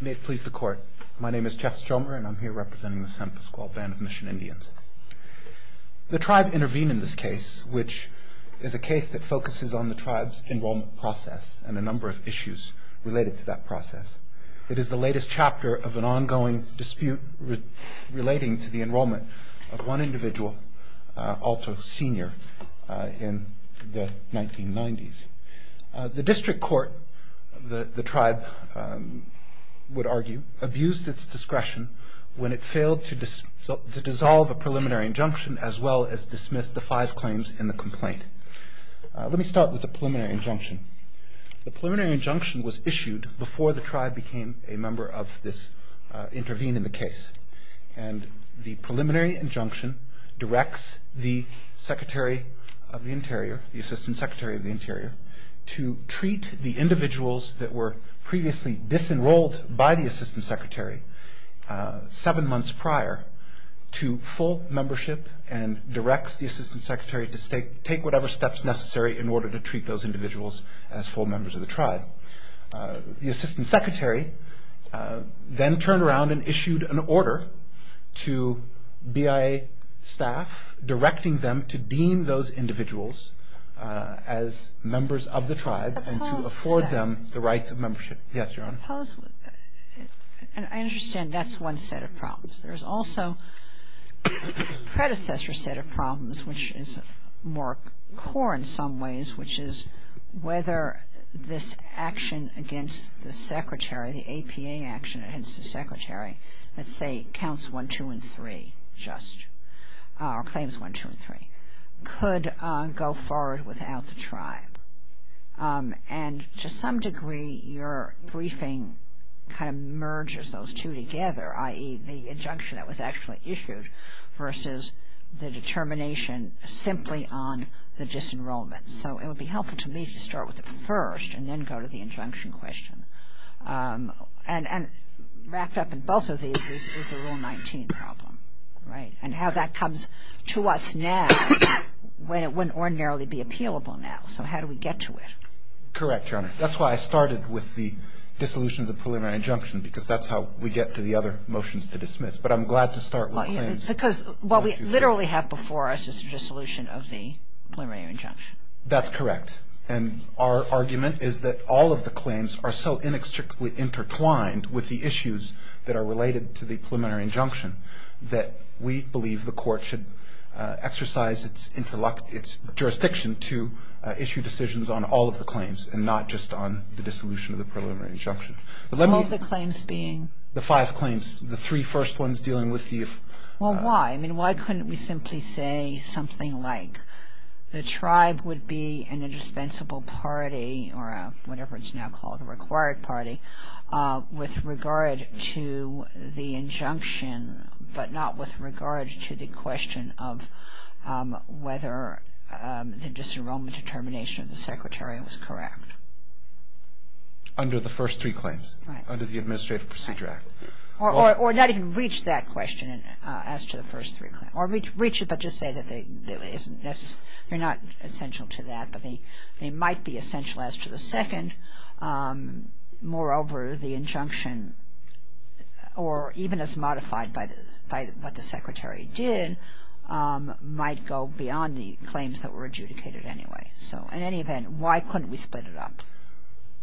May it please the court. My name is Jeff Strohmer and I'm here representing the San Pascual Band of Mission Indians. The tribe intervened in this case, which is a case that focuses on the tribe's enrollment process and a number of issues related to that process. It is the latest chapter of an ongoing dispute relating to the enrollment of one individual, Alto Sr., in the 1990s. The district court, the tribe would argue, abused its discretion when it failed to dissolve a preliminary injunction as well as dismiss the five claims in the complaint. Let me start with the preliminary injunction. The preliminary injunction was issued before the tribe became a member of this intervene in the case. The preliminary injunction directs the Secretary of the Interior, the Assistant Secretary of the Interior, to treat the individuals that were previously disenrolled by the Assistant Secretary seven months prior to full membership and directs the Assistant Secretary to take whatever steps necessary in order to treat those individuals as full members of the tribe. The Assistant Secretary then turned around and issued an order to BIA staff directing them to deem those individuals as members of the tribe and to afford them the rights of membership. Yes, Your Honor. I understand that's one set of problems. There's also a predecessor set of problems, which is more core in some ways, which is whether this action against the Secretary, the APA action against the Secretary, let's say counts one, two, and three, or claims one, two, and three, could go forward without the tribe. And to some degree, your briefing kind of merges those two together, i.e., the injunction that was actually issued versus the determination simply on the disenrollment. So it would be helpful to me to start with the first and then go to the injunction question. And wrapped up in both of these is the Rule 19 problem, right? And how that comes to us now when it wouldn't ordinarily be appealable now. So how do we get to it? Correct, Your Honor. That's why I started with the dissolution of the preliminary injunction, because that's how we get to the other motions to dismiss. But I'm glad to start with the claims. Because what we literally have before us is the dissolution of the preliminary injunction. That's correct. And our argument is that all of the claims are so inextricably intertwined with the issues that are related to the preliminary injunction that we believe the Court should exercise its jurisdiction to issue decisions on all of the claims and not just on the dissolution of the preliminary injunction. All of the claims being? The five claims. The three first ones dealing with the if. Well, why? I mean, why couldn't we simply say something like the tribe would be an indispensable party or whatever it's now called a required party with regard to the injunction but not with regard to the question of whether the disenrollment determination of the secretariat was correct? Under the first three claims. Right. Under the Administrative Procedure Act. Right. Or not even reach that question as to the first three claims. Or reach it but just say that they're not essential to that, but they might be essential as to the second. Moreover, the injunction, or even as modified by what the secretariat did, might go beyond the claims that were adjudicated anyway. So in any event, why couldn't we split it up?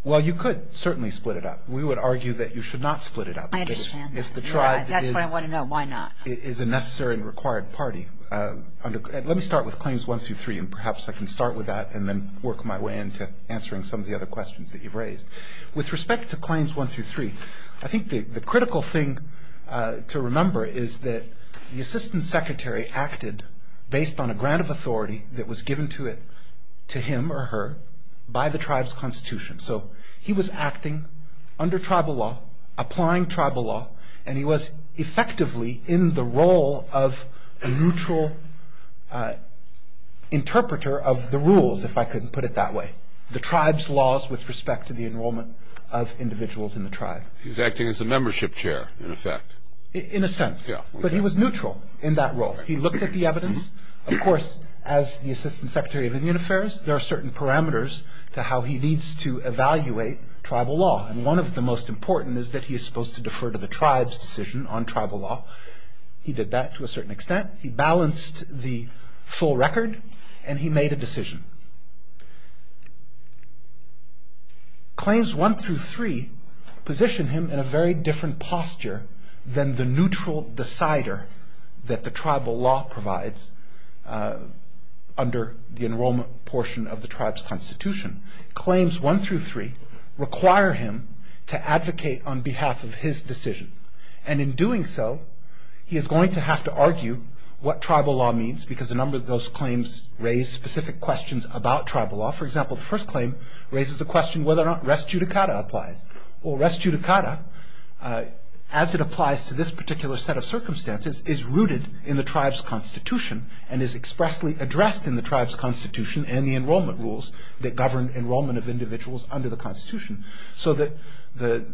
Well, you could certainly split it up. We would argue that you should not split it up. I understand that. That's what I want to know. Why not? If the tribe is a necessary and required party. Let me start with claims one through three and perhaps I can start with that and then work my way into answering some of the other questions that you've raised. With respect to claims one through three, I think the critical thing to remember is that the assistant secretary acted based on a grant of authority that was given to him or her by the tribe's constitution. So he was acting under tribal law, applying tribal law, and he was effectively in the role of a neutral interpreter of the rules, if I could put it that way. The tribe's laws with respect to the enrollment of individuals in the tribe. He's acting as a membership chair, in effect. In a sense. Yeah. But he was neutral in that role. He looked at the evidence. Of course, as the assistant secretary of Indian Affairs, there are certain parameters to how he needs to evaluate tribal law. And one of the most important is that he is supposed to defer to the tribe's decision on tribal law. He did that to a certain extent. He balanced the full record and he made a decision. Claims one through three position him in a very different posture than the neutral decider that the tribal law provides under the enrollment portion of the tribe's constitution. Claims one through three require him to advocate on behalf of his decision. And in doing so, he is going to have to argue what tribal law means, because a number of those claims raise specific questions about tribal law. For example, the first claim raises the question whether or not res judicata applies. Well, res judicata, as it applies to this particular set of circumstances, is rooted in the tribe's constitution and is expressly addressed in the tribe's constitution and the enrollment rules that govern enrollment of individuals under the constitution. So the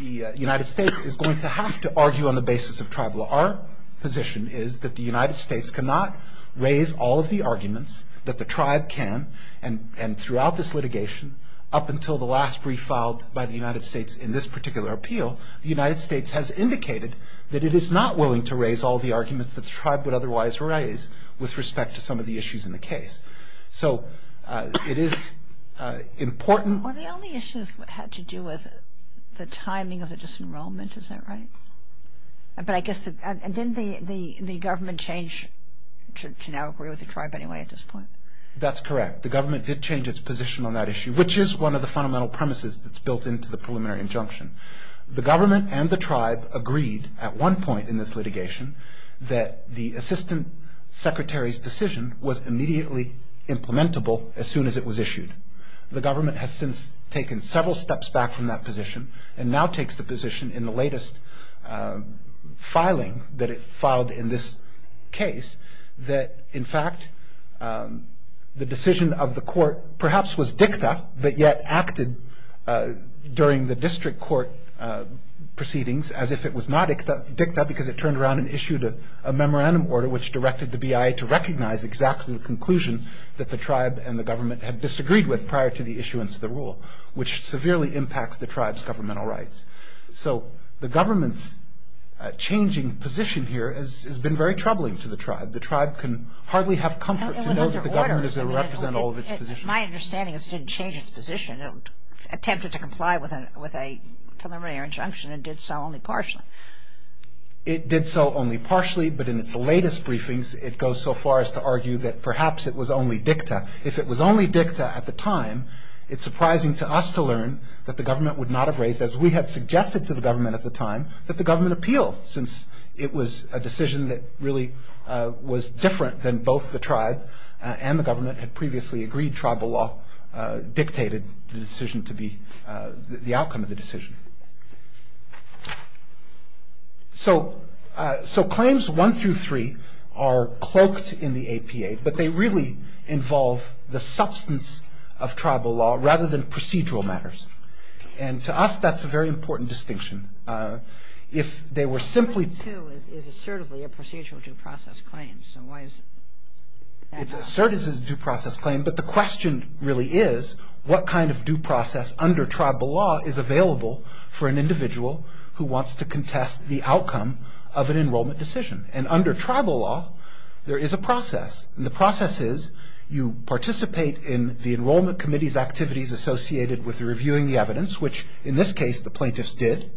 United States is going to have to argue on the basis of tribal law. Our position is that the United States cannot raise all of the arguments that the tribe can, and throughout this litigation, up until the last brief filed by the United States in this particular appeal, the United States has indicated that it is not willing to raise all of the arguments that the tribe would otherwise raise with respect to some of the issues in the case. So it is important. Well, the only issues had to do with the timing of the disenrollment, is that right? But I guess, and didn't the government change to now agree with the tribe anyway at this point? That's correct. The government did change its position on that issue, which is one of the fundamental premises that's built into the preliminary injunction. The government and the tribe agreed at one point in this litigation that the assistant secretary's decision was immediately implementable as soon as it was issued. The government has since taken several steps back from that position and now takes the position in the latest filing that it filed in this case that, in fact, the decision of the court perhaps was dicta, but yet acted during the district court proceedings as if it was not dicta because it turned around and issued a memorandum order which directed the BIA to recognize exactly the conclusion that the tribe and the government had disagreed with prior to the issuance of the rule, which severely impacts the tribe's governmental rights. So the government's changing position here has been very troubling to the tribe. The tribe can hardly have comfort to know that the government is going to represent all of its positions. My understanding is it didn't change its position. It attempted to comply with a preliminary injunction and did so only partially. It did so only partially, but in its latest briefings, it goes so far as to argue that perhaps it was only dicta. If it was only dicta at the time, it's surprising to us to learn that the government would not have raised, as we had suggested to the government at the time, that the government appeal since it was a decision that really was different than both the tribe and the government had previously agreed tribal law dictated the outcome of the decision. So claims one through three are cloaked in the APA, but they really involve the substance of tribal law rather than procedural matters. And to us, that's a very important distinction. If they were simply... Claim two is assertively a procedural due process claim, so why is... It's asserted as a due process claim, but the question really is, what kind of due process under tribal law is available for an individual who wants to contest the outcome of an enrollment decision? And under tribal law, there is a process. And the process is you participate in the enrollment committee's activities associated with reviewing the evidence, which in this case the plaintiffs did,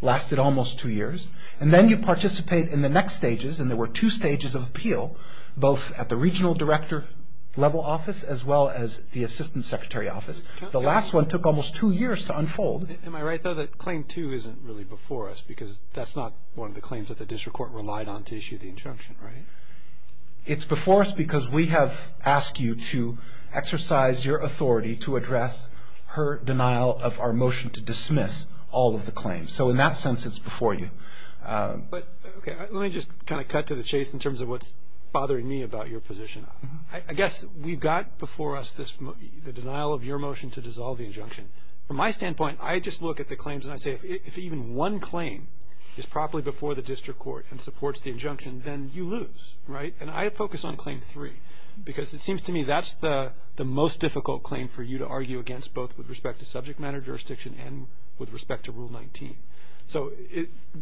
lasted almost two years. And then you participate in the next stages, and there were two stages of appeal, both at the regional director level office as well as the assistant secretary office. The last one took almost two years to unfold. Am I right, though, that claim two isn't really before us, because that's not one of the claims that the district court relied on to issue the injunction, right? It's before us because we have asked you to exercise your authority to address her denial of our motion to dismiss all of the claims. So in that sense, it's before you. Let me just kind of cut to the chase in terms of what's bothering me about your position. I guess we've got before us the denial of your motion to dissolve the injunction. From my standpoint, I just look at the claims and I say, if even one claim is properly before the district court and supports the injunction, then you lose, right? And I focus on claim three, because it seems to me that's the most difficult claim for you to argue against, both with respect to subject matter jurisdiction and with respect to Rule 19. So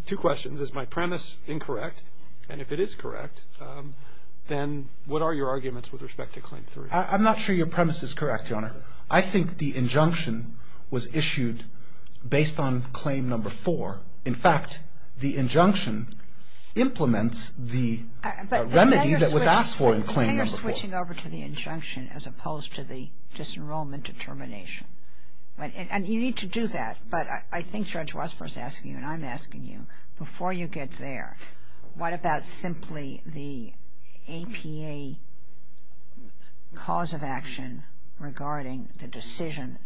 two questions. Is my premise incorrect? And if it is correct, then what are your arguments with respect to claim three? I'm not sure your premise is correct, Your Honor. I think the injunction was issued based on claim number four. In fact, the injunction implements the remedy that was asked for in claim number four. But then you're switching over to the injunction as opposed to the disenrollment determination. And you need to do that. But I think Judge Rothfors is asking you, and I'm asking you, before you get there, what about simply the APA cause of action regarding the decision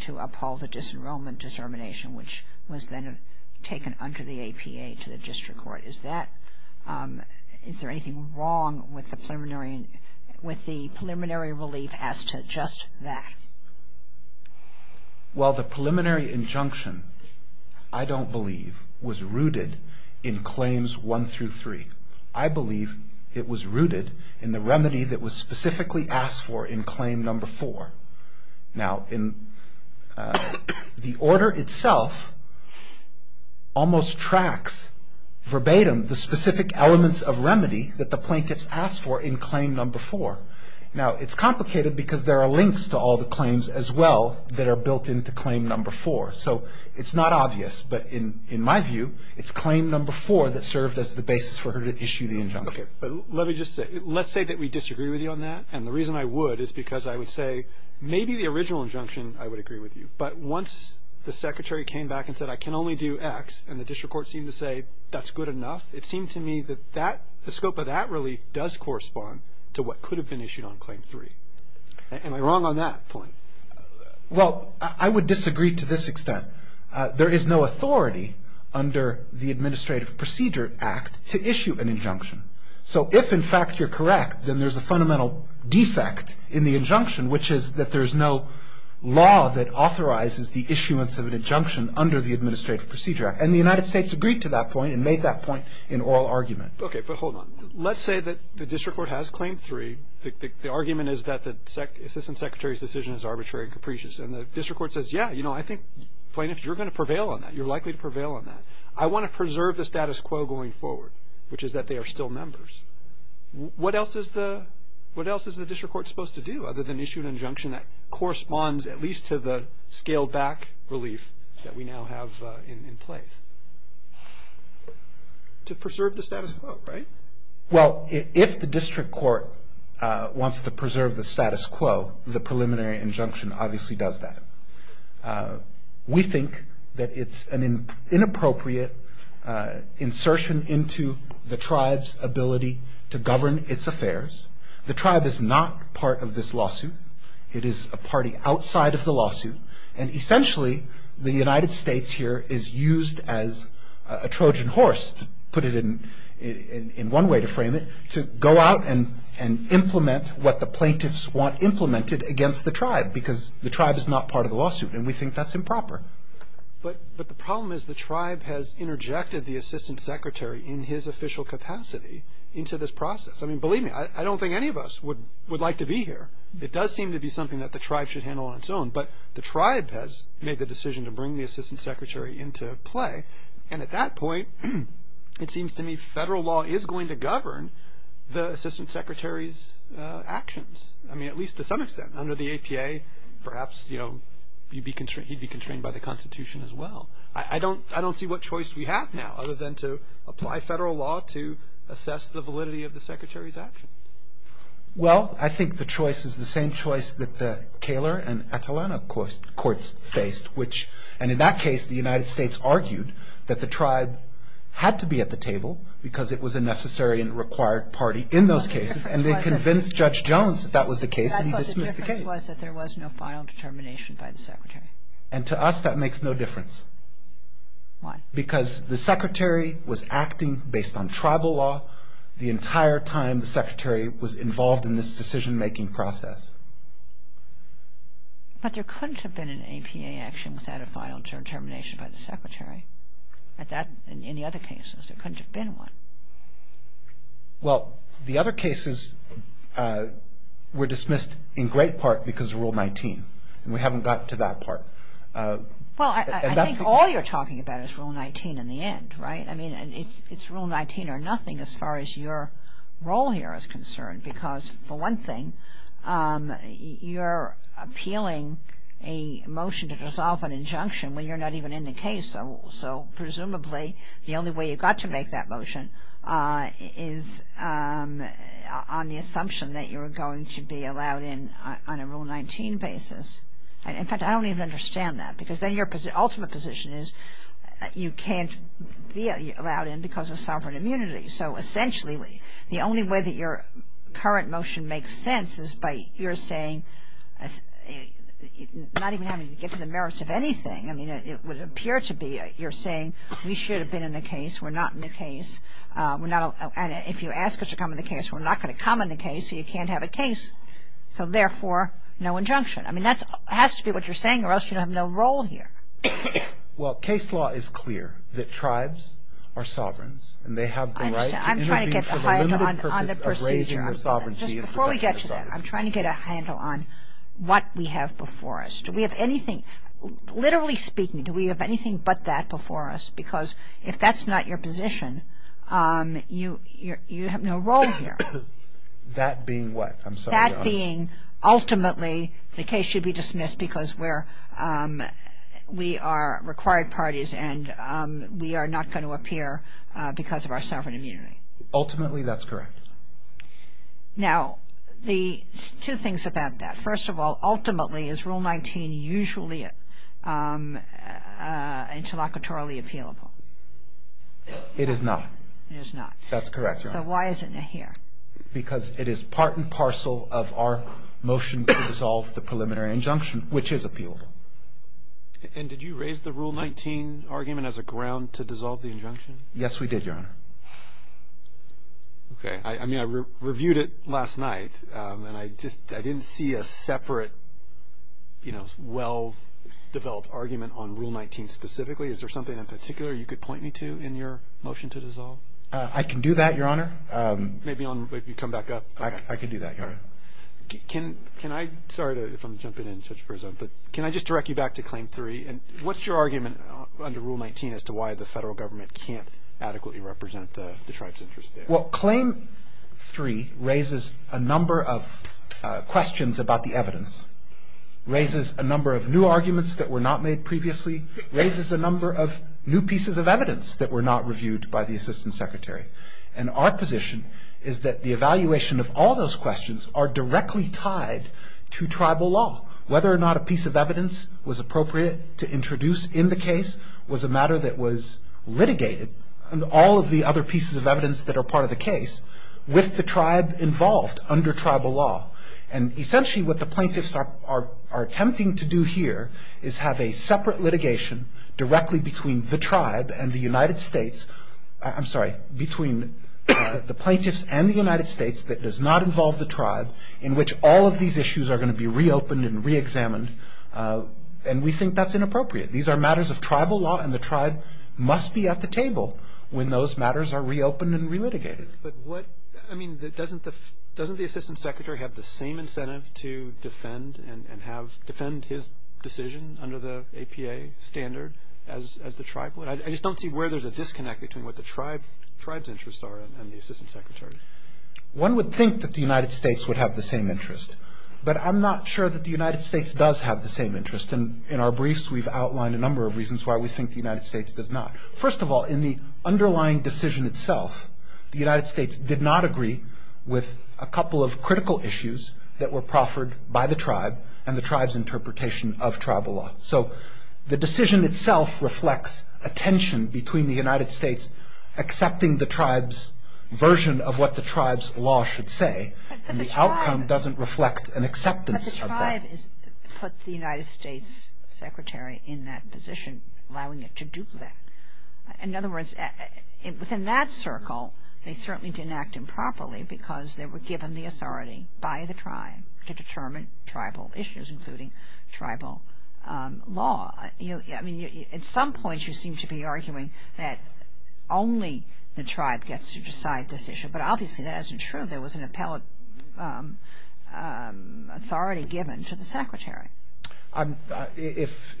to uphold the disenrollment determination, which was then taken under the APA to the district court? Is there anything wrong with the preliminary relief as to just that? Well, the preliminary injunction, I don't believe, was rooted in claims one through three. I believe it was rooted in the remedy that was specifically asked for in claim number four. Now, the order itself almost tracks verbatim the specific elements of remedy that the plaintiffs asked for in claim number four. Now, it's complicated because there are links to all the claims as well that are built into claim number four. So it's not obvious. But in my view, it's claim number four that served as the basis for her to issue the injunction. Okay. But let me just say, let's say that we disagree with you on that. And the reason I would is because I would say maybe the original injunction I would agree with you. But once the Secretary came back and said I can only do X, and the district court seemed to say that's good enough, it seemed to me that the scope of that relief does correspond to what could have been issued on claim three. Am I wrong on that point? Well, I would disagree to this extent. There is no authority under the Administrative Procedure Act to issue an injunction. So if, in fact, you're correct, then there's a fundamental defect in the injunction, which is that there's no law that authorizes the issuance of an injunction under the Administrative Procedure Act. And the United States agreed to that point and made that point in oral argument. Okay. But hold on. Let's say that the district court has claim three. The argument is that the Assistant Secretary's decision is arbitrary and capricious. And the district court says, yeah, you know, I think, Plaintiff, you're going to prevail on that. You're likely to prevail on that. I want to preserve the status quo going forward, which is that they are still members. What else is the district court supposed to do other than issue an injunction that corresponds at least to the scaled-back relief that we now have in place? To preserve the status quo, right? Well, if the district court wants to preserve the status quo, the preliminary injunction obviously does that. We think that it's an inappropriate insertion into the tribe's ability to govern its affairs. The tribe is not part of this lawsuit. It is a party outside of the lawsuit. And essentially, the United States here is used as a Trojan horse, put it in one way to frame it, to go out and implement what the plaintiffs want implemented against the tribe, because the tribe is not part of the lawsuit. And we think that's improper. But the problem is the tribe has interjected the Assistant Secretary in his official capacity into this process. I mean, believe me, I don't think any of us would like to be here. It does seem to be something that the tribe should handle on its own. But the tribe has made the decision to bring the Assistant Secretary into play. And at that point, it seems to me federal law is going to govern the Assistant Secretary's actions. I mean, at least to some extent. Under the APA, perhaps, you know, he'd be constrained by the Constitution as well. I don't see what choice we have now other than to apply federal law to assess the validity of the Secretary's actions. Well, I think the choice is the same choice that the Kaler and Atalanta courts faced, which, and in that case, the United States argued that the tribe had to be at the table because it was a necessary and required party in those cases, and they convinced Judge Jones that that was the case, and he dismissed the case. I thought the difference was that there was no final determination by the Secretary. And to us, that makes no difference. Why? Because the Secretary was acting based on tribal law the entire time the Secretary was involved in this decision-making process. But there couldn't have been an APA action without a final determination by the Secretary. In the other cases, there couldn't have been one. Well, the other cases were dismissed in great part because of Rule 19, and we haven't gotten to that part. Well, I think all you're talking about is Rule 19 in the end, right? I mean, it's Rule 19 or nothing as far as your role here is concerned because, for one thing, you're appealing a motion to dissolve an injunction when you're not even in the case, so presumably the only way you've got to make that motion is on the assumption that you're going to be allowed in on a Rule 19 basis. In fact, I don't even understand that because then your ultimate position is you can't be allowed in because of sovereign immunity. So essentially, the only way that your current motion makes sense is by you're saying not even having to get to the merits of anything. I mean, it would appear to be you're saying we should have been in the case. We're not in the case. And if you ask us to come in the case, we're not going to come in the case, so you can't have a case. So therefore, no injunction. I mean, that has to be what you're saying or else you have no role here. Well, case law is clear that tribes are sovereigns and they have the right to intervene for the limited purpose of raising their sovereignty. Just before we get to that, I'm trying to get a handle on what we have before us. Do we have anything, literally speaking, do we have anything but that before us? Because if that's not your position, you have no role here. That being what? I'm sorry. That being ultimately the case should be dismissed because we are required parties and we are not going to appear because of our sovereign immunity. Ultimately, that's correct. Now, two things about that. First of all, ultimately, is Rule 19 usually interlocutorally appealable? It is not. It is not. That's correct, Your Honor. So why is it not here? Because it is part and parcel of our motion to dissolve the preliminary injunction, which is appealable. And did you raise the Rule 19 argument as a ground to dissolve the injunction? Yes, we did, Your Honor. Okay. I mean, I reviewed it last night and I didn't see a separate, you know, well-developed argument on Rule 19 specifically. Is there something in particular you could point me to in your motion to dissolve? I can do that, Your Honor. Maybe on, maybe come back up. I can do that, Your Honor. Can I, sorry if I'm jumping in, Judge Perzo, but can I just direct you back to Claim 3? And what's your argument under Rule 19 as to why the federal government can't adequately represent the tribe's interest there? Well, Claim 3 raises a number of questions about the evidence, raises a number of new arguments that were not made previously, raises a number of new pieces of evidence that were not reviewed by the Assistant Secretary. And our position is that the evaluation of all those questions are directly tied to tribal law. Whether or not a piece of evidence was appropriate to introduce in the case was a matter that was litigated, and all of the other pieces of evidence that are part of the case with the tribe involved under tribal law. And essentially what the plaintiffs are attempting to do here is have a separate litigation directly between the tribe and the United States, I'm sorry, between the plaintiffs and the United States that does not involve the tribe, in which all of these issues are going to be reopened and reexamined. And we think that's inappropriate. These are matters of tribal law, and the tribe must be at the table when those matters are reopened and relitigated. But what, I mean, doesn't the Assistant Secretary have the same incentive to defend and have, defend his decision under the APA standard as the tribe would? I just don't see where there's a disconnect between what the tribe's interests are and the Assistant Secretary's. One would think that the United States would have the same interest, but I'm not sure that the United States does have the same interest. And in our briefs we've outlined a number of reasons why we think the United States does not. First of all, in the underlying decision itself, the United States did not agree with a couple of critical issues that were proffered by the tribe and the tribe's interpretation of tribal law. So the decision itself reflects a tension between the United States accepting the tribe's version of what the tribe's law should say, and the outcome doesn't reflect an acceptance of that. But the tribe put the United States Secretary in that position, allowing it to do that. In other words, within that circle, they certainly didn't act improperly because they were given the authority by the tribe to determine tribal issues, including tribal law. I mean, at some point you seem to be arguing that only the tribe gets to decide this issue, but obviously that isn't true. There was an appellate authority given to the Secretary. If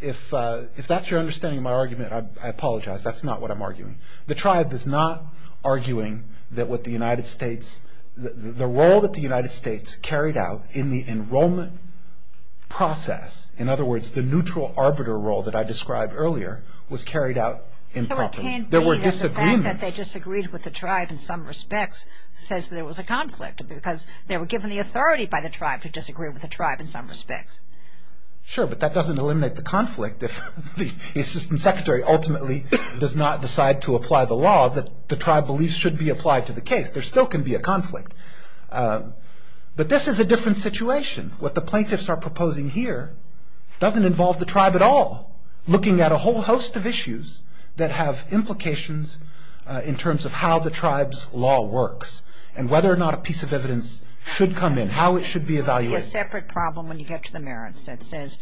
that's your understanding of my argument, I apologize. That's not what I'm arguing. The tribe is not arguing that what the United States, the role that the United States carried out in the enrollment process, in other words, the neutral arbiter role that I described earlier, was carried out improperly. There were disagreements. So it can't be that the fact that they disagreed with the tribe in some respects says there was a conflict because they were given the authority by the tribe to disagree with the tribe in some respects. Sure, but that doesn't eliminate the conflict. If the Assistant Secretary ultimately does not decide to apply the law, that the tribe believes should be applied to the case, there still can be a conflict. But this is a different situation. What the plaintiffs are proposing here doesn't involve the tribe at all, looking at a whole host of issues that have implications in terms of how the tribe's law works and whether or not a piece of evidence should come in, how it should be evaluated. It would be a separate problem when you get to the merits that says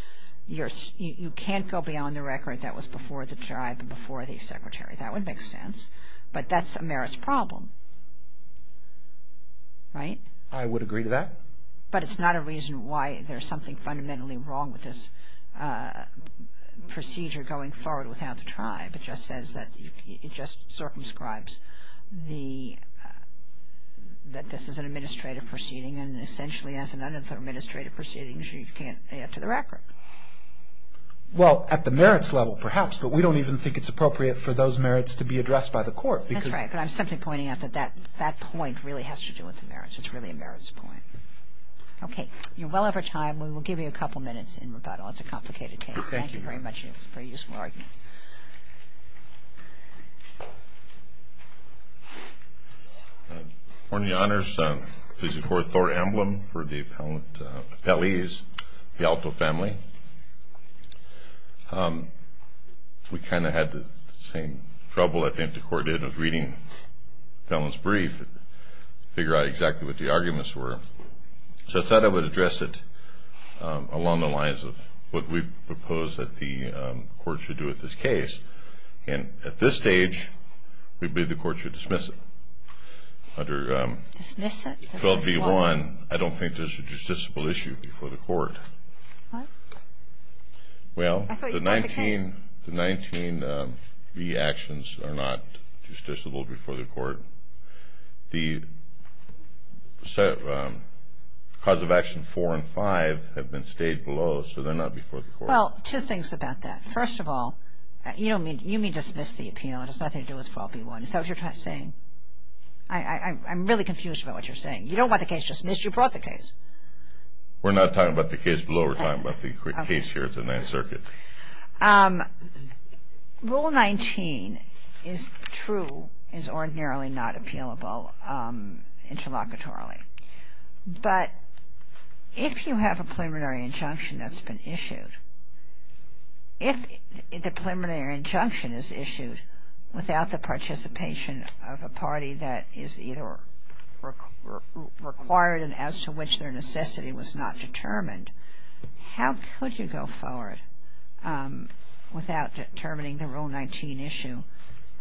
you can't go beyond the record that was before the tribe and before the Secretary. That would make sense. But that's a merits problem. Right? I would agree to that. But it's not a reason why there's something fundamentally wrong with this procedure going forward without the tribe. It just says that it just circumscribes that this is an administrative proceeding and essentially as an un-administrative proceeding you can't add to the record. Well, at the merits level perhaps, but we don't even think it's appropriate for those merits to be addressed by the court. That's right. But I'm simply pointing out that that point really has to do with the merits. It's really a merits point. Okay. You're well over time. We will give you a couple minutes in rebuttal. It's a complicated case. Thank you very much. It was a very useful argument. Good morning, Your Honors. This is Court Thore Emblem for the appellees, the Alto family. We kind of had the same trouble I think the court did with reading the appellant's brief to figure out exactly what the arguments were. So I thought I would address it along the lines of what we propose that the court should do with this case, and at this stage we believe the court should dismiss it. Under 12b-1, I don't think there's a justiciable issue before the court. What? Well, the 19b actions are not justiciable before the court. The cause of action 4 and 5 have been stayed below, so they're not before the court. Well, two things about that. First of all, you mean dismiss the appeal. It has nothing to do with 12b-1. Is that what you're saying? I'm really confused about what you're saying. You don't want the case dismissed. You brought the case. We're not talking about the case below. We're talking about the case here at the Ninth Circuit. Rule 19 is true, is ordinarily not appealable interlocutorily. But if you have a preliminary injunction that's been issued, if the preliminary injunction is issued without the participation of a party that is either required and as to which their necessity was not determined, how could you go forward without determining the Rule 19 issue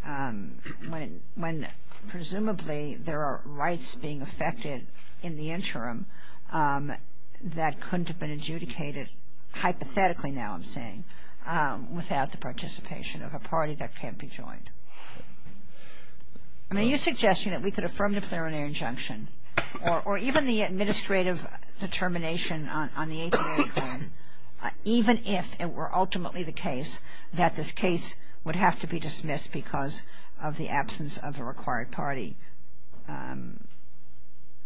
when presumably there are rights being affected in the interim that couldn't have been adjudicated hypothetically, now I'm saying, without the participation of a party that can't be joined? I mean, you're suggesting that we could affirm the preliminary injunction or even the administrative determination on the APA claim, even if it were ultimately the case that this case would have to be dismissed because of the absence of a required party.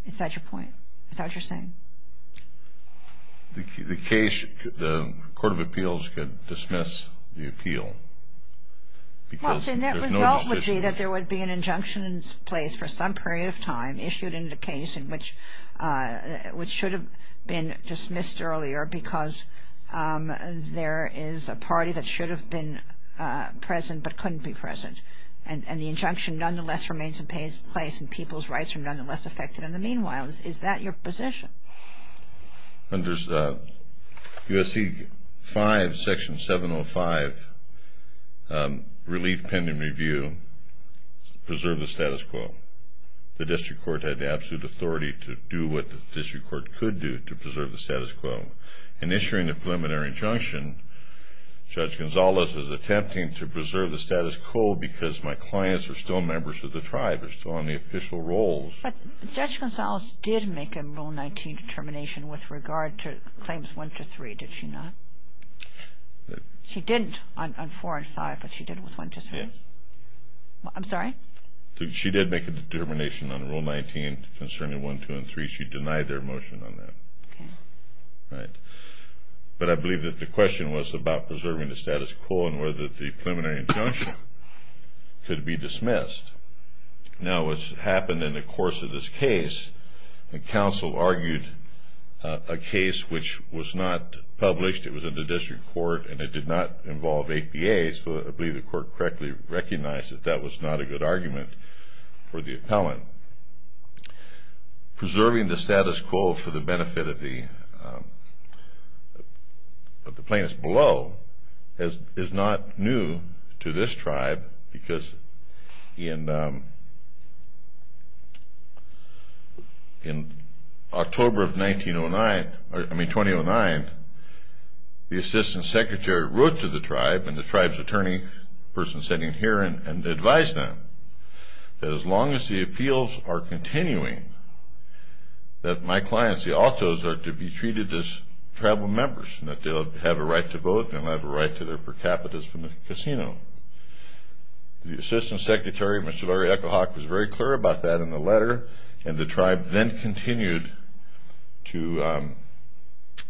Is that your point? Is that what you're saying? The case, the Court of Appeals could dismiss the appeal. Well, the net result would be that there would be an injunction in place for some period of time where there is a party that should have been present but couldn't be present and the injunction nonetheless remains in place and people's rights are nonetheless affected in the meanwhile. Is that your position? Under USC 5, Section 705, Relief Pending Review, preserve the status quo. The district court had the absolute authority to do what the district court could do to preserve the status quo. In issuing the preliminary injunction, Judge Gonzales is attempting to preserve the status quo because my clients are still members of the tribe, are still on the official roles. But Judge Gonzales did make a Rule 19 determination with regard to Claims 1, 2, 3, did she not? She didn't on 4 and 5, but she did with 1, 2, 3? Yes. I'm sorry? She did make a determination on Rule 19 concerning 1, 2, and 3. She denied their motion on that. But I believe that the question was about preserving the status quo and whether the preliminary injunction could be dismissed. Now, what's happened in the course of this case, the counsel argued a case which was not published. It was in the district court and it did not involve APA, so I believe the court correctly recognized that that was not a good argument for the appellant. Preserving the status quo for the benefit of the plaintiffs below is not new to this tribe because in October of 2009, the Assistant Secretary wrote to the tribe and the tribe's attorney, the person sitting here, advised them that as long as the appeals are continuing, that my clients, the Altos, are to be treated as tribal members and that they'll have a right to vote and they'll have a right to their per capita from the casino. The Assistant Secretary, Mr. Larry Echo-Hawk, was very clear about that in the letter and the tribe then continued to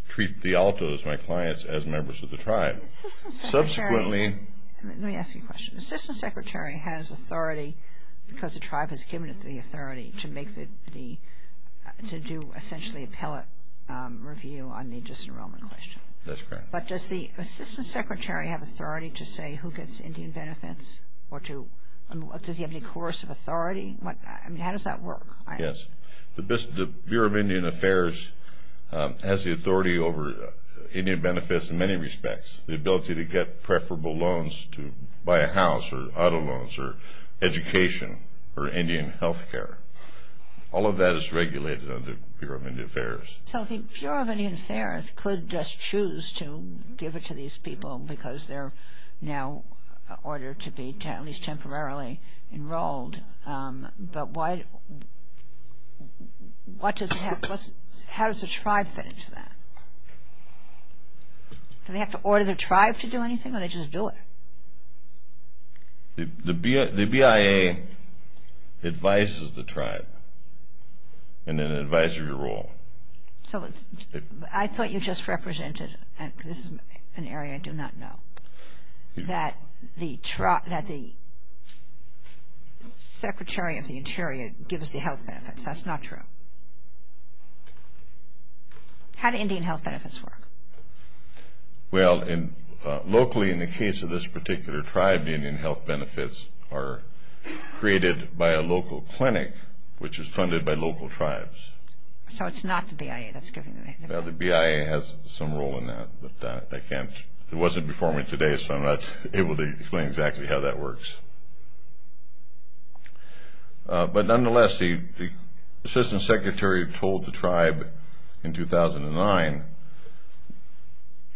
treat the Altos, my clients, as members of the tribe. Let me ask you a question. The Assistant Secretary has authority because the tribe has given it the authority to do essentially appellate review on the disenrollment question. That's correct. But does the Assistant Secretary have authority to say who gets Indian benefits or does he have any coercive authority? I mean, how does that work? Yes. The Bureau of Indian Affairs has the authority over Indian benefits in many respects, the ability to get preferable loans to buy a house or auto loans or education or Indian health care. All of that is regulated under the Bureau of Indian Affairs. So the Bureau of Indian Affairs could just choose to give it to these people because they're now ordered to be at least temporarily enrolled. But how does the tribe fit into that? Do they have to order the tribe to do anything or do they just do it? The BIA advises the tribe in an advisory role. I thought you just represented, and this is an area I do not know, that the Secretary of the Interior gives the health benefits. That's not true. How do Indian health benefits work? Well, locally in the case of this particular tribe, the Indian health benefits are created by a local clinic, which is funded by local tribes. So it's not the BIA that's giving it. Well, the BIA has some role in that, but I can't. It wasn't before me today, so I'm not able to explain exactly how that works. But nonetheless, the Assistant Secretary told the tribe in 2009,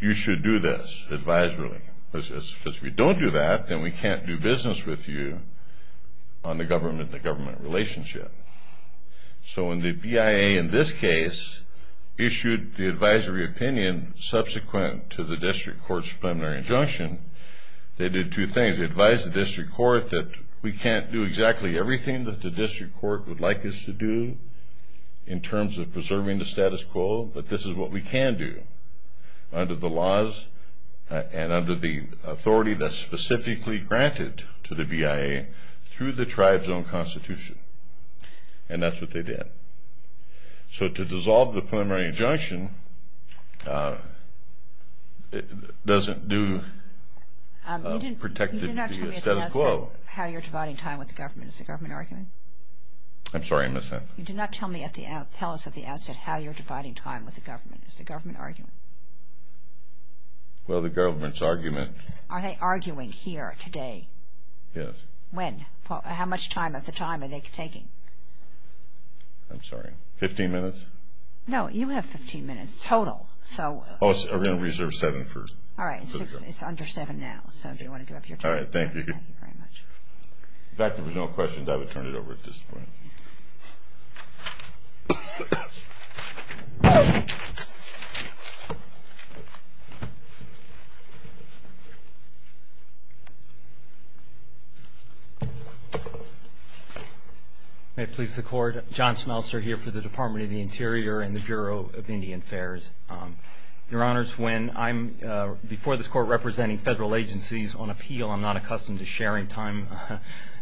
you should do this, advisory. If we don't do that, then we can't do business with you on the government-to-government relationship. So when the BIA in this case issued the advisory opinion subsequent to the district court's preliminary injunction, they did two things. They advised the district court that we can't do exactly everything that the district court would like us to do in terms of preserving the status quo, but this is what we can do under the laws and under the authority that's specifically granted to the BIA through the tribe's own constitution. And that's what they did. So to dissolve the preliminary injunction doesn't do a protected status quo. You did not tell me at the outset how you're dividing time with the government. Is the government arguing? I'm sorry, I missed that. You did not tell us at the outset how you're dividing time with the government. Is the government arguing? Well, the government's argument. Are they arguing here today? Yes. When? How much time at the time are they taking? I'm sorry, 15 minutes? No, you have 15 minutes total. Oh, we're going to reserve seven first. All right, it's under seven now, so if you want to give up your time. All right, thank you. Thank you very much. In fact, if there were no questions, I would turn it over at this point. May it please the Court, John Smeltzer here for the Department of the Interior and the Bureau of Indian Affairs. Your Honors, when I'm before this Court representing federal agencies on appeal, I'm not accustomed to sharing time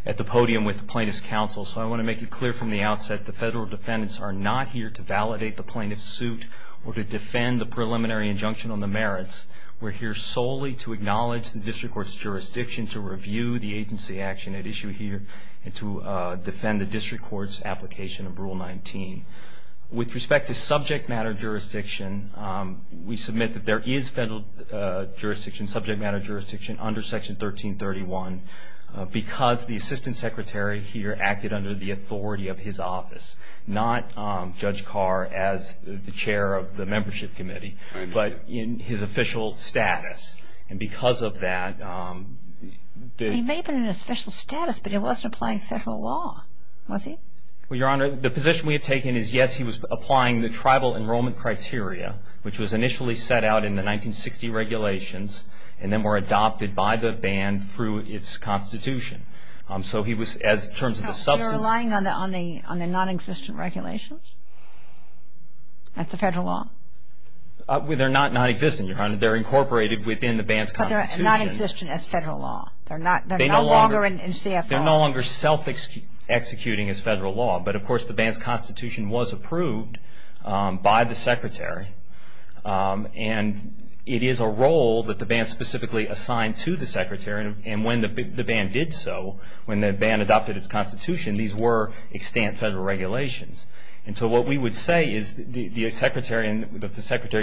at the podium with plaintiff's counsel, so I want to make it clear from the outset the federal defendants are not here to validate the plaintiff's suit or to defend the preliminary injunction on the merits. We're here solely to acknowledge the district court's jurisdiction, to review the agency action at issue here, and to defend the district court's application of Rule 19. With respect to subject matter jurisdiction, we submit that there is federal jurisdiction, subject matter jurisdiction under Section 1331 because the assistant secretary here acted under the authority of his office, not Judge Carr as the chair of the membership committee, but in his official status. And because of that, the- He may have been in his official status, but he wasn't applying federal law, was he? Well, Your Honor, the position we have taken is, yes, he was applying the tribal enrollment criteria, which was initially set out in the 1960 regulations and then were adopted by the ban through its constitution. So he was, as terms of the substance- You're relying on the nonexistent regulations? That's the federal law? They're not nonexistent, Your Honor. They're incorporated within the ban's constitution. But they're nonexistent as federal law. They're no longer in CFR. They're no longer self-executing as federal law. But, of course, the ban's constitution was approved by the secretary. And it is a role that the ban specifically assigned to the secretary. And when the ban did so, when the ban adopted its constitution, these were extant federal regulations. And so what we would say is that the secretary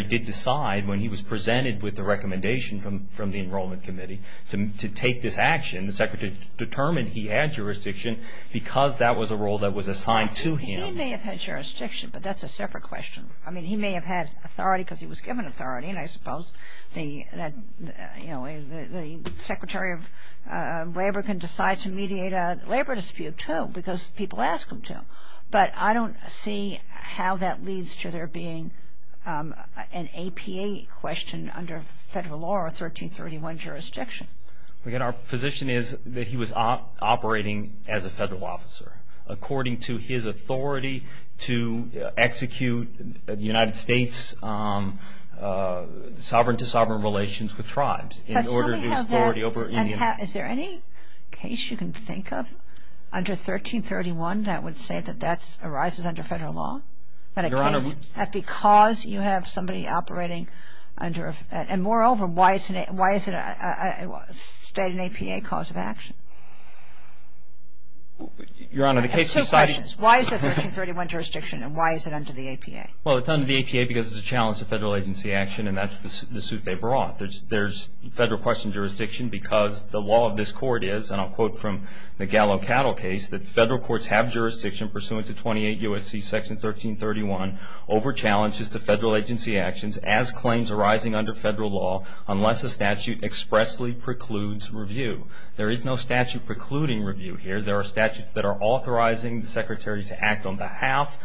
did decide when he was presented with the recommendation from the Enrollment Committee to take this action. The secretary determined he had jurisdiction because that was a role that was assigned to him. He may have had jurisdiction, but that's a separate question. I mean, he may have had authority because he was given authority. And I suppose the secretary of labor can decide to mediate a labor dispute, too, because people ask him to. But I don't see how that leads to there being an APA question under federal law or 1331 jurisdiction. Our position is that he was operating as a federal officer, according to his authority to execute United States sovereign-to-sovereign relations with tribes. Is there any case you can think of under 1331 that would say that that arises under federal law? That because you have somebody operating under, and moreover, why is it a state and APA cause of action? Your Honor, the case we cited… I have two questions. Why is it 1331 jurisdiction, and why is it under the APA? Well, it's under the APA because it's a challenge to federal agency action, and that's the suit they brought. There's federal question jurisdiction because the law of this court is, and I'll quote from the Gallo Cattle case, that federal courts have jurisdiction pursuant to 28 U.S.C. section 1331 over challenges to federal agency actions as claims arising under federal law, unless a statute expressly precludes review. There is no statute precluding review here. There are statutes that are authorizing the secretary to act on behalf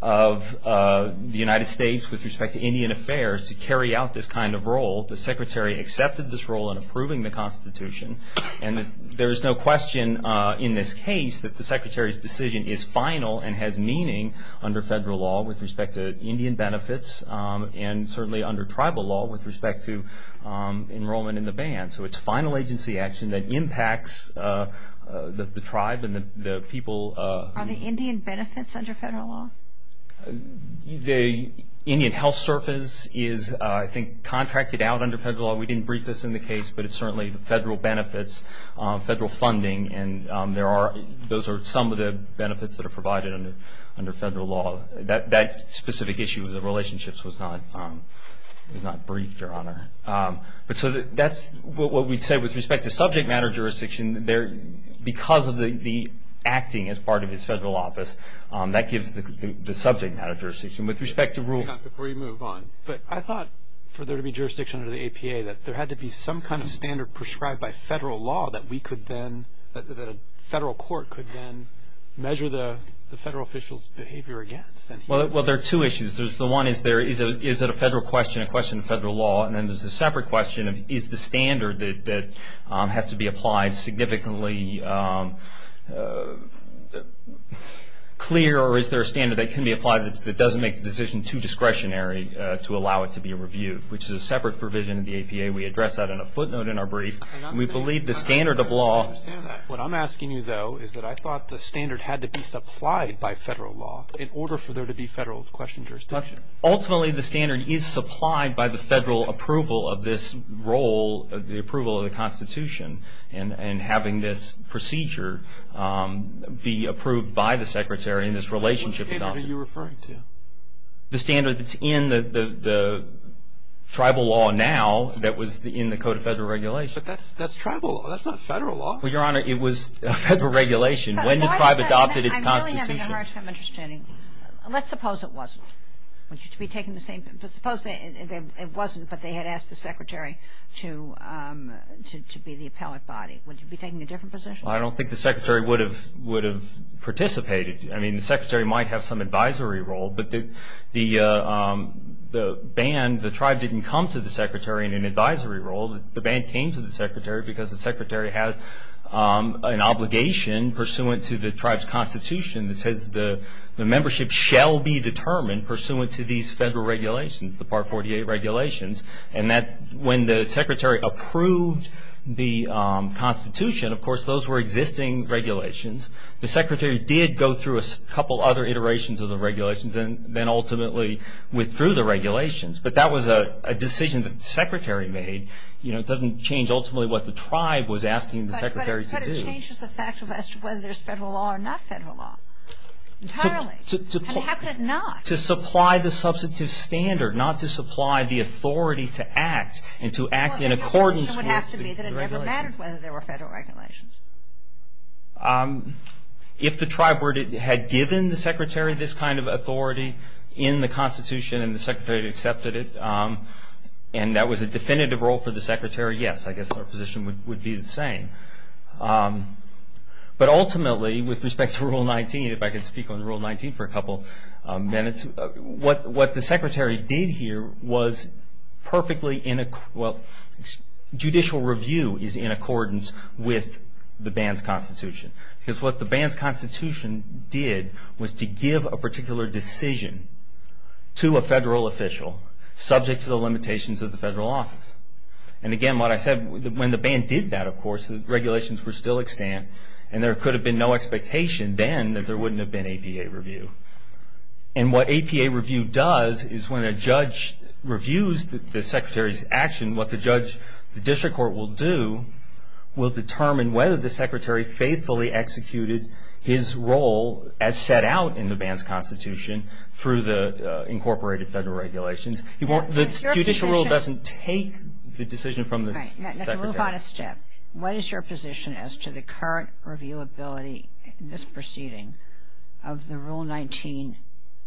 of the United States with respect to Indian affairs to carry out this kind of role. The secretary accepted this role in approving the Constitution, and there is no question in this case that the secretary's decision is final and has meaning under federal law with respect to Indian benefits, and certainly under tribal law with respect to enrollment in the band. So it's final agency action that impacts the tribe and the people. Are the Indian benefits under federal law? The Indian health service is, I think, contracted out under federal law. We didn't brief this in the case, but it's certainly the federal benefits, federal funding, and those are some of the benefits that are provided under federal law. That specific issue of the relationships was not briefed, Your Honor. So that's what we'd say with respect to subject matter jurisdiction. Because of the acting as part of his federal office, that gives the subject matter jurisdiction. With respect to rule. Your Honor, before you move on, I thought for there to be jurisdiction under the APA that there had to be some kind of standard prescribed by federal law that a federal court could then measure the federal official's behavior against. Well, there are two issues. The one is there is a federal question, a question of federal law, and then there's a separate question of is the standard that has to be applied significantly clear or is there a standard that can be applied that doesn't make the decision too discretionary to allow it to be reviewed, which is a separate provision of the APA. We address that in a footnote in our brief. We believe the standard of law. What I'm asking you, though, is that I thought the standard had to be supplied by federal law in order for there to be federal question jurisdiction. Ultimately, the standard is supplied by the federal approval of this role, the approval of the Constitution and having this procedure be approved by the Secretary in this relationship. Which standard are you referring to? The standard that's in the tribal law now that was in the Code of Federal Regulations. But that's tribal law. That's not federal law. Well, Your Honor, it was federal regulation when the tribe adopted its Constitution. I'm really having a hard time understanding. Let's suppose it wasn't. Suppose it wasn't, but they had asked the Secretary to be the appellate body. Would you be taking a different position? I don't think the Secretary would have participated. I mean, the Secretary might have some advisory role, but the ban, the tribe didn't come to the Secretary in an advisory role. The ban came to the Secretary because the Secretary has an obligation pursuant to the tribe's Constitution that says the membership shall be determined pursuant to these federal regulations, the Part 48 regulations. And when the Secretary approved the Constitution, of course, those were existing regulations. The Secretary did go through a couple other iterations of the regulations and then ultimately withdrew the regulations. But that was a decision that the Secretary made. You know, it doesn't change ultimately what the tribe was asking the Secretary to do. But it changes the fact of whether there's federal law or not federal law entirely. And how could it not? To supply the substantive standard, not to supply the authority to act and to act in accordance with the regulations. Well, the assumption would have to be that it never mattered whether there were federal regulations. If the tribe had given the Secretary this kind of authority in the Constitution and the Secretary had accepted it, and that was a definitive role for the Secretary, yes, I guess our position would be the same. But ultimately, with respect to Rule 19, if I could speak on Rule 19 for a couple minutes, what the Secretary did here was perfectly, well, judicial review is in accordance with the ban's Constitution. Because what the ban's Constitution did was to give a particular decision to a federal official, subject to the limitations of the federal office. And again, what I said, when the ban did that, of course, the regulations were still extant, and there could have been no expectation then that there wouldn't have been APA review. And what APA review does is when a judge reviews the Secretary's action, what the judge, the district court will do, will determine whether the Secretary faithfully executed his role as set out in the ban's Constitution through the incorporated federal regulations. The judicial rule doesn't take the decision from the Secretary. Let's move on a step. What is your position as to the current reviewability in this proceeding of the Rule 19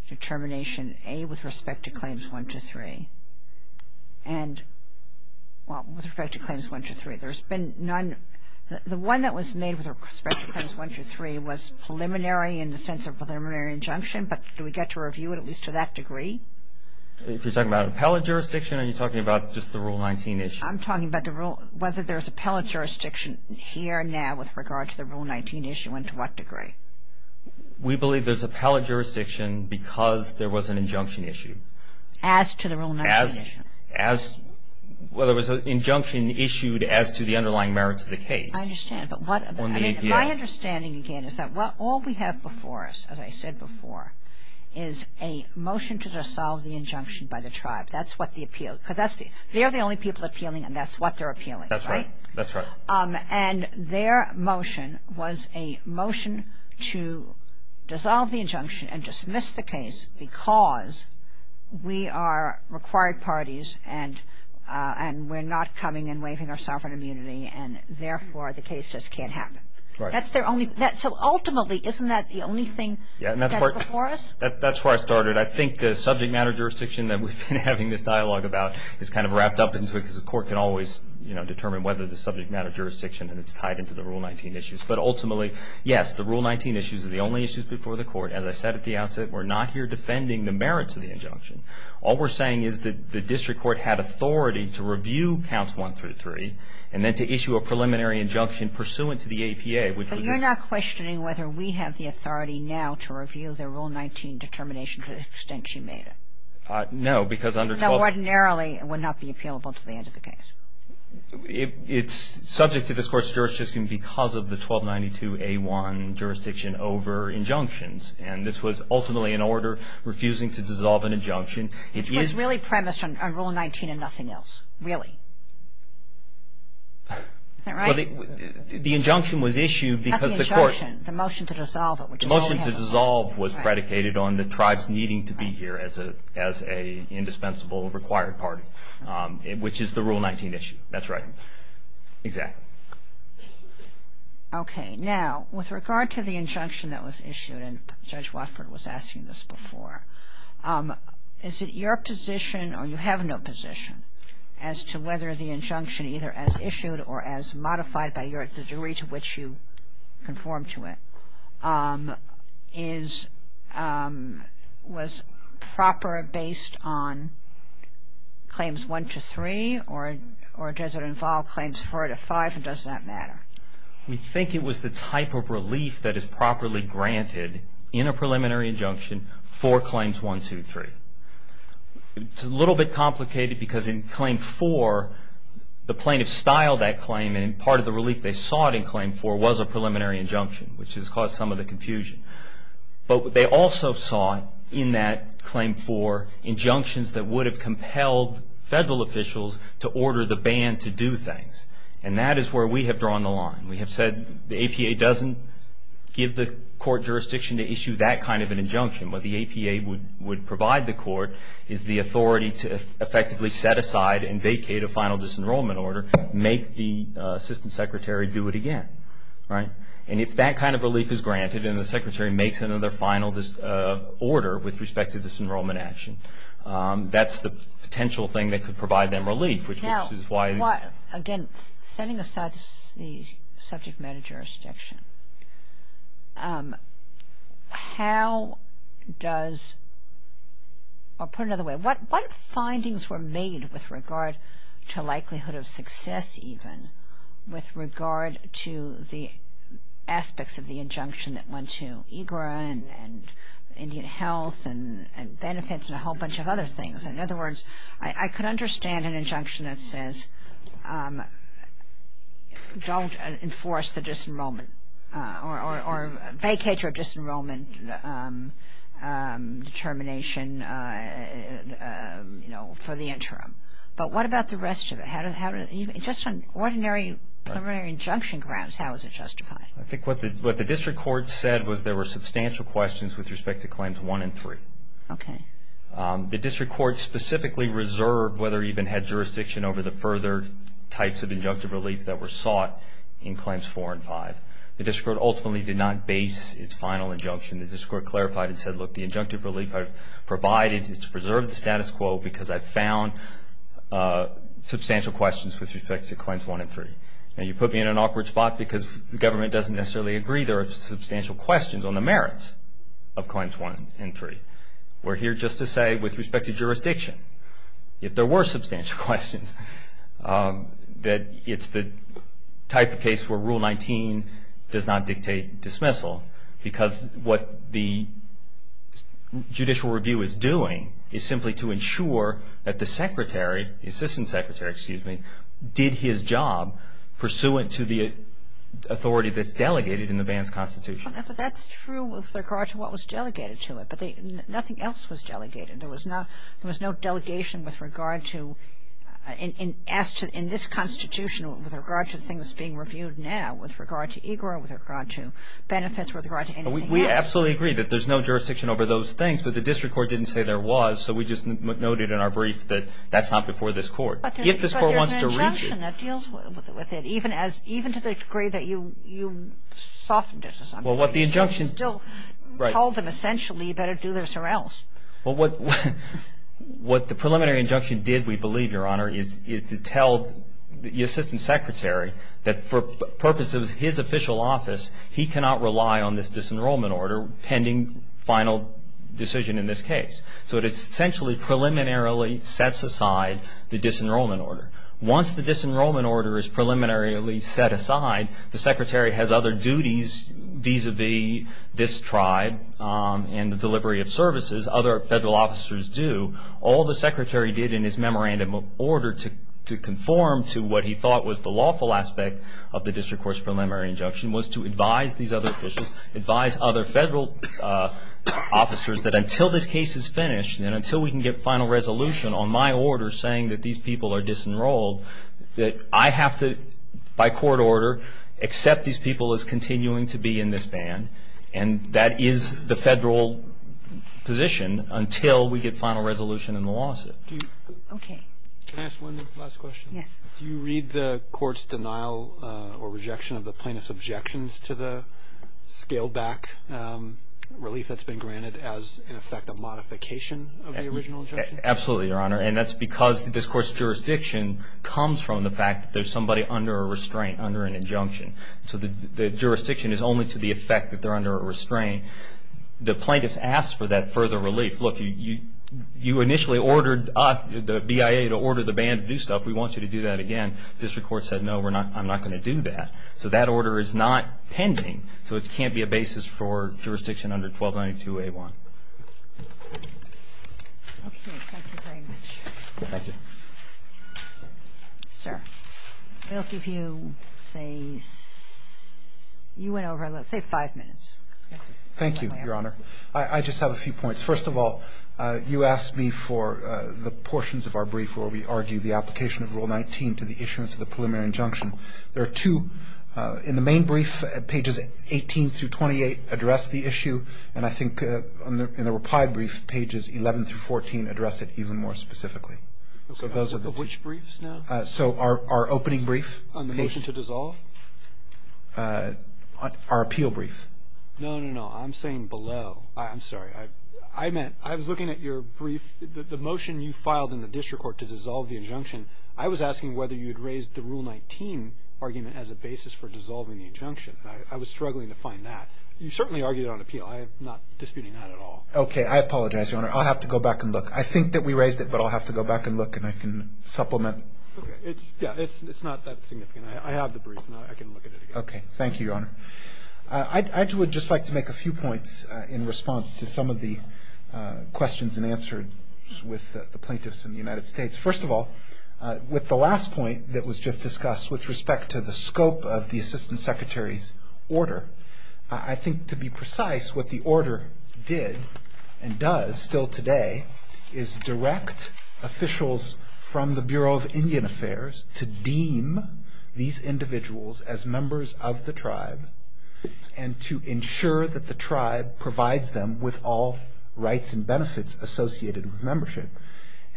determination, A, with respect to Claims 1-3, and, well, with respect to Claims 1-3? There's been none. The one that was made with respect to Claims 1-3 was preliminary in the sense of preliminary injunction, but do we get to review it at least to that degree? If you're talking about appellate jurisdiction, are you talking about just the Rule 19 issue? I'm talking about whether there's appellate jurisdiction here and now with regard to the Rule 19 issue and to what degree. We believe there's appellate jurisdiction because there was an injunction issued. As to the Rule 19 issue? Well, there was an injunction issued as to the underlying merits of the case. I understand. My understanding, again, is that all we have before us, as I said before, is a motion to dissolve the injunction by the tribe. They're the only people appealing and that's what they're appealing, right? That's right. And their motion was a motion to dissolve the injunction and dismiss the case because we are required parties and we're not coming and waiving our sovereign immunity and, therefore, the case just can't happen. So, ultimately, isn't that the only thing that's before us? That's where I started. I think the subject matter jurisdiction that we've been having this dialogue about is kind of wrapped up because the court can always determine whether the subject matter jurisdiction and it's tied into the Rule 19 issues. But, ultimately, yes, the Rule 19 issues are the only issues before the court. As I said at the outset, we're not here defending the merits of the injunction. All we're saying is that the district court had authority to review Counts 1 through 3 and then to issue a preliminary injunction pursuant to the APA. But you're not questioning whether we have the authority now to review the Rule 19 determination to the extent you made it? No, because under 12 That ordinarily would not be appealable to the end of the case. It's subject to this court's jurisdiction because of the 1292A1 jurisdiction over injunctions and this was ultimately an order refusing to dissolve an injunction. Which was really premised on Rule 19 and nothing else. Really. Isn't that right? Well, the injunction was issued because the court Not the injunction, the motion to dissolve it. The motion to dissolve was predicated on the tribes needing to be here as an indispensable required party, which is the Rule 19 issue. That's right. Exactly. Okay. Now, with regard to the injunction that was issued and Judge Watford was asking this before, is it your position or you have no position as to whether the injunction either as issued or as modified by the jury to which you conform to it was proper based on claims 1 to 3 or does it involve claims 4 to 5 and does that matter? We think it was the type of relief that is properly granted in a preliminary injunction for claims 1, 2, 3. It's a little bit complicated because in claim 4, the plaintiff styled that claim and part of the relief they sought in claim 4 was a preliminary injunction, which has caused some of the confusion. But they also sought in that claim 4 injunctions that would have compelled federal officials to order the ban to do things. And that is where we have drawn the line. We have said the APA doesn't give the court jurisdiction to issue that kind of an injunction. What the APA would provide the court is the authority to effectively set aside and vacate a final disenrollment order, make the assistant secretary do it again. And if that kind of relief is granted and the secretary makes another final order with respect to disenrollment action, that's the potential thing that could provide them relief. Again, setting aside the subject matter jurisdiction, how does, or put it another way, what findings were made with regard to likelihood of success even with regard to the aspects of the injunction that went to EGRA and Indian Health and benefits and a whole bunch of other things? In other words, I could understand an injunction that says don't enforce the disenrollment or vacate your disenrollment determination, you know, for the interim. But what about the rest of it? Just on ordinary preliminary injunction grounds, how is it justified? I think what the district court said was there were substantial questions with respect to claims 1 and 3. Okay. The district court specifically reserved whether or even had jurisdiction over the further types of injunctive relief that were sought in claims 4 and 5. The district court ultimately did not base its final injunction. The district court clarified and said, look, the injunctive relief I've provided is to preserve the status quo because I've found substantial questions with respect to claims 1 and 3. Now, you put me in an awkward spot because the government doesn't necessarily agree there are substantial questions on the merits of claims 1 and 3. We're here just to say with respect to jurisdiction, if there were substantial questions, that it's the type of case where Rule 19 does not dictate dismissal because what the judicial review is doing is simply to ensure that the secretary, the assistant secretary, excuse me, did his job pursuant to the authority that's delegated in the ban's constitution. But that's true with regard to what was delegated to it. But nothing else was delegated. There was no delegation with regard to, in this constitution, with regard to the thing that's being reviewed now, with regard to EGRA, with regard to benefits, with regard to anything else. We absolutely agree that there's no jurisdiction over those things, but the district court didn't say there was, so we just noted in our brief that that's not before this court. But there's an injunction that deals with it, even to the degree that you softened it. Well, what the injunction. You still told them essentially you better do this or else. Well, what the preliminary injunction did, we believe, Your Honor, is to tell the assistant secretary that for purposes of his official office, he cannot rely on this disenrollment order pending final decision in this case. So it essentially preliminarily sets aside the disenrollment order. Once the disenrollment order is preliminarily set aside, the secretary has other duties vis-a-vis this tribe and the delivery of services other federal officers do. All the secretary did in his memorandum of order to conform to what he thought was the lawful aspect of the district court's preliminary injunction was to advise these other officials, advise other federal officers that until this case is finished and until we can get final resolution on my order saying that these people are disenrolled, that I have to, by court order, accept these people as continuing to be in this band, and that is the federal position until we get final resolution in the lawsuit. Okay. Can I ask one last question? Yes. Do you read the court's denial or rejection of the plaintiff's objections to the scaled-back relief that's been granted as, in effect, a modification of the original injunction? Absolutely, Your Honor, and that's because this court's jurisdiction comes from the fact that there's somebody under a restraint, under an injunction. So the jurisdiction is only to the effect that they're under a restraint. The plaintiff's asked for that further relief. Look, you initially ordered us, the BIA, to order the band to do stuff. We want you to do that again. The district court said, No, I'm not going to do that. So that order is not pending. So it can't be a basis for jurisdiction under 1292A1. Okay. Thank you very much. Thank you. Sir, I'll give you, say, you went over, let's say, five minutes. Thank you, Your Honor. I just have a few points. First of all, you asked me for the portions of our brief where we argue the application of Rule 19 to the issuance of the preliminary injunction. There are two. In the main brief, pages 18 through 28 address the issue, and I think in the reply brief, pages 11 through 14 address it even more specifically. Of which briefs now? So our opening brief. On the motion to dissolve? Our appeal brief. No, no, no. I'm saying below. I'm sorry. I meant, I was looking at your brief. The motion you filed in the district court to dissolve the injunction, I was asking whether you had raised the Rule 19 argument as a basis for dissolving the injunction. I was struggling to find that. You certainly argued it on appeal. I am not disputing that at all. Okay. I apologize, Your Honor. I'll have to go back and look. I think that we raised it, but I'll have to go back and look, and I can supplement. Yeah. It's not that significant. I have the brief, and I can look at it again. Okay. Thank you, Your Honor. I would just like to make a few points in response to some of the questions and answers with the plaintiffs in the United States. First of all, with the last point that was just discussed with respect to the scope of the Assistant Secretary's order, I think to be precise, what the order did and does still today is direct officials from the Bureau of Indian Affairs to deem these individuals as members of the tribe and to ensure that the tribe provides them with all rights and benefits associated with membership.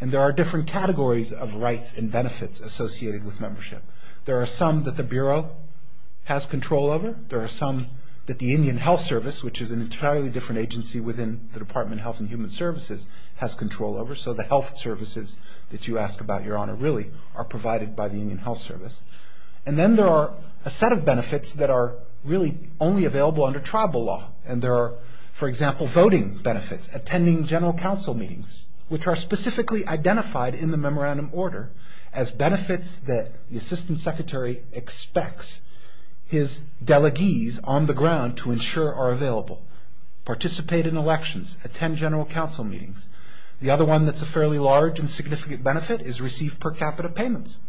And there are different categories of rights and benefits associated with membership. There are some that the Bureau has control over. There are some that the Indian Health Service, which is an entirely different agency within the Department of Health and Human Services, has control over. So the health services that you ask about, Your Honor, really are provided by the Indian Health Service. And then there are a set of benefits that are really only available under tribal law. And there are, for example, voting benefits, attending general council meetings, which are specifically identified in the memorandum order as benefits that the Assistant Secretary expects his delegees on the ground to ensure are available. Participate in elections. Attend general council meetings. The other one that's a fairly large and significant benefit is receive per capita payments.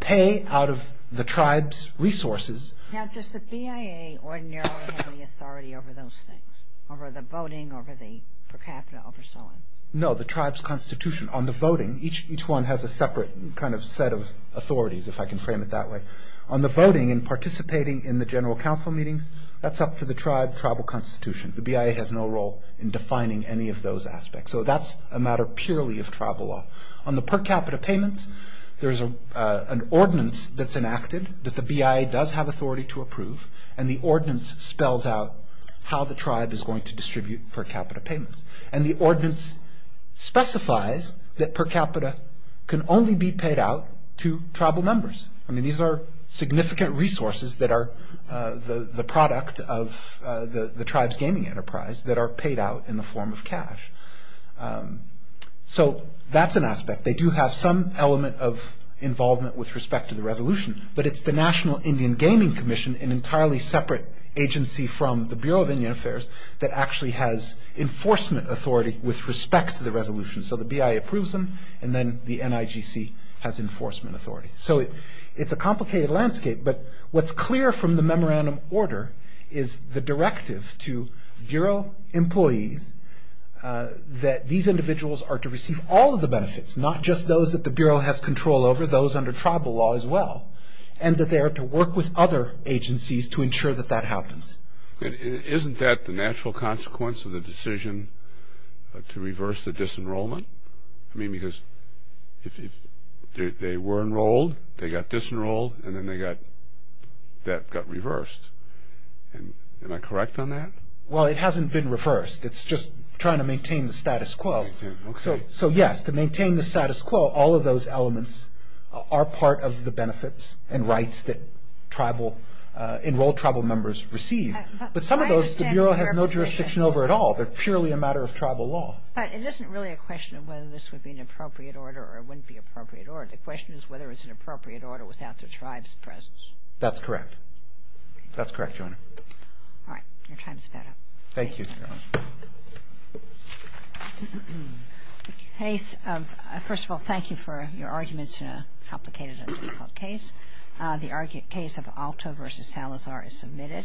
Pay out of the tribe's resources. Now, does the BIA ordinarily have any authority over those things, over the voting, over the per capita, over so on? No, the tribe's constitution. On the voting, each one has a separate kind of set of authorities, if I can frame it that way. On the voting and participating in the general council meetings, that's up to the tribe, tribal constitution. The BIA has no role in defining any of those aspects. So that's a matter purely of tribal law. On the per capita payments, there's an ordinance that's enacted that the BIA does have authority to approve, and the ordinance spells out how the tribe is going to distribute per capita payments. And the ordinance specifies that per capita can only be paid out to tribal members. I mean, these are significant resources that are the product of the tribe's gaming enterprise that are paid out in the form of cash. So that's an aspect. They do have some element of involvement with respect to the resolution, but it's the National Indian Gaming Commission, an entirely separate agency from the Bureau of Indian Affairs, that actually has enforcement authority with respect to the resolution. So the BIA approves them, and then the NIGC has enforcement authority. So it's a complicated landscape, but what's clear from the memorandum order is the directive to bureau employees that these individuals are to receive all of the benefits, not just those that the bureau has control over, those under tribal law as well, and that they are to work with other agencies to ensure that that happens. Isn't that the natural consequence of the decision to reverse the disenrollment? I mean, because if they were enrolled, they got disenrolled, and then that got reversed. Am I correct on that? Well, it hasn't been reversed. It's just trying to maintain the status quo. So yes, to maintain the status quo, all of those elements are part of the benefits and rights that enrolled tribal members receive. But some of those, the bureau has no jurisdiction over at all. They're purely a matter of tribal law. But it isn't really a question of whether this would be an appropriate order or it wouldn't be an appropriate order. The question is whether it's an appropriate order without the tribe's presence. That's correct. That's correct, Your Honor. All right. Your time's about up. Thank you, Your Honor. First of all, thank you for your arguments in a complicated and difficult case. The case of Alto v. Salazar is submitted.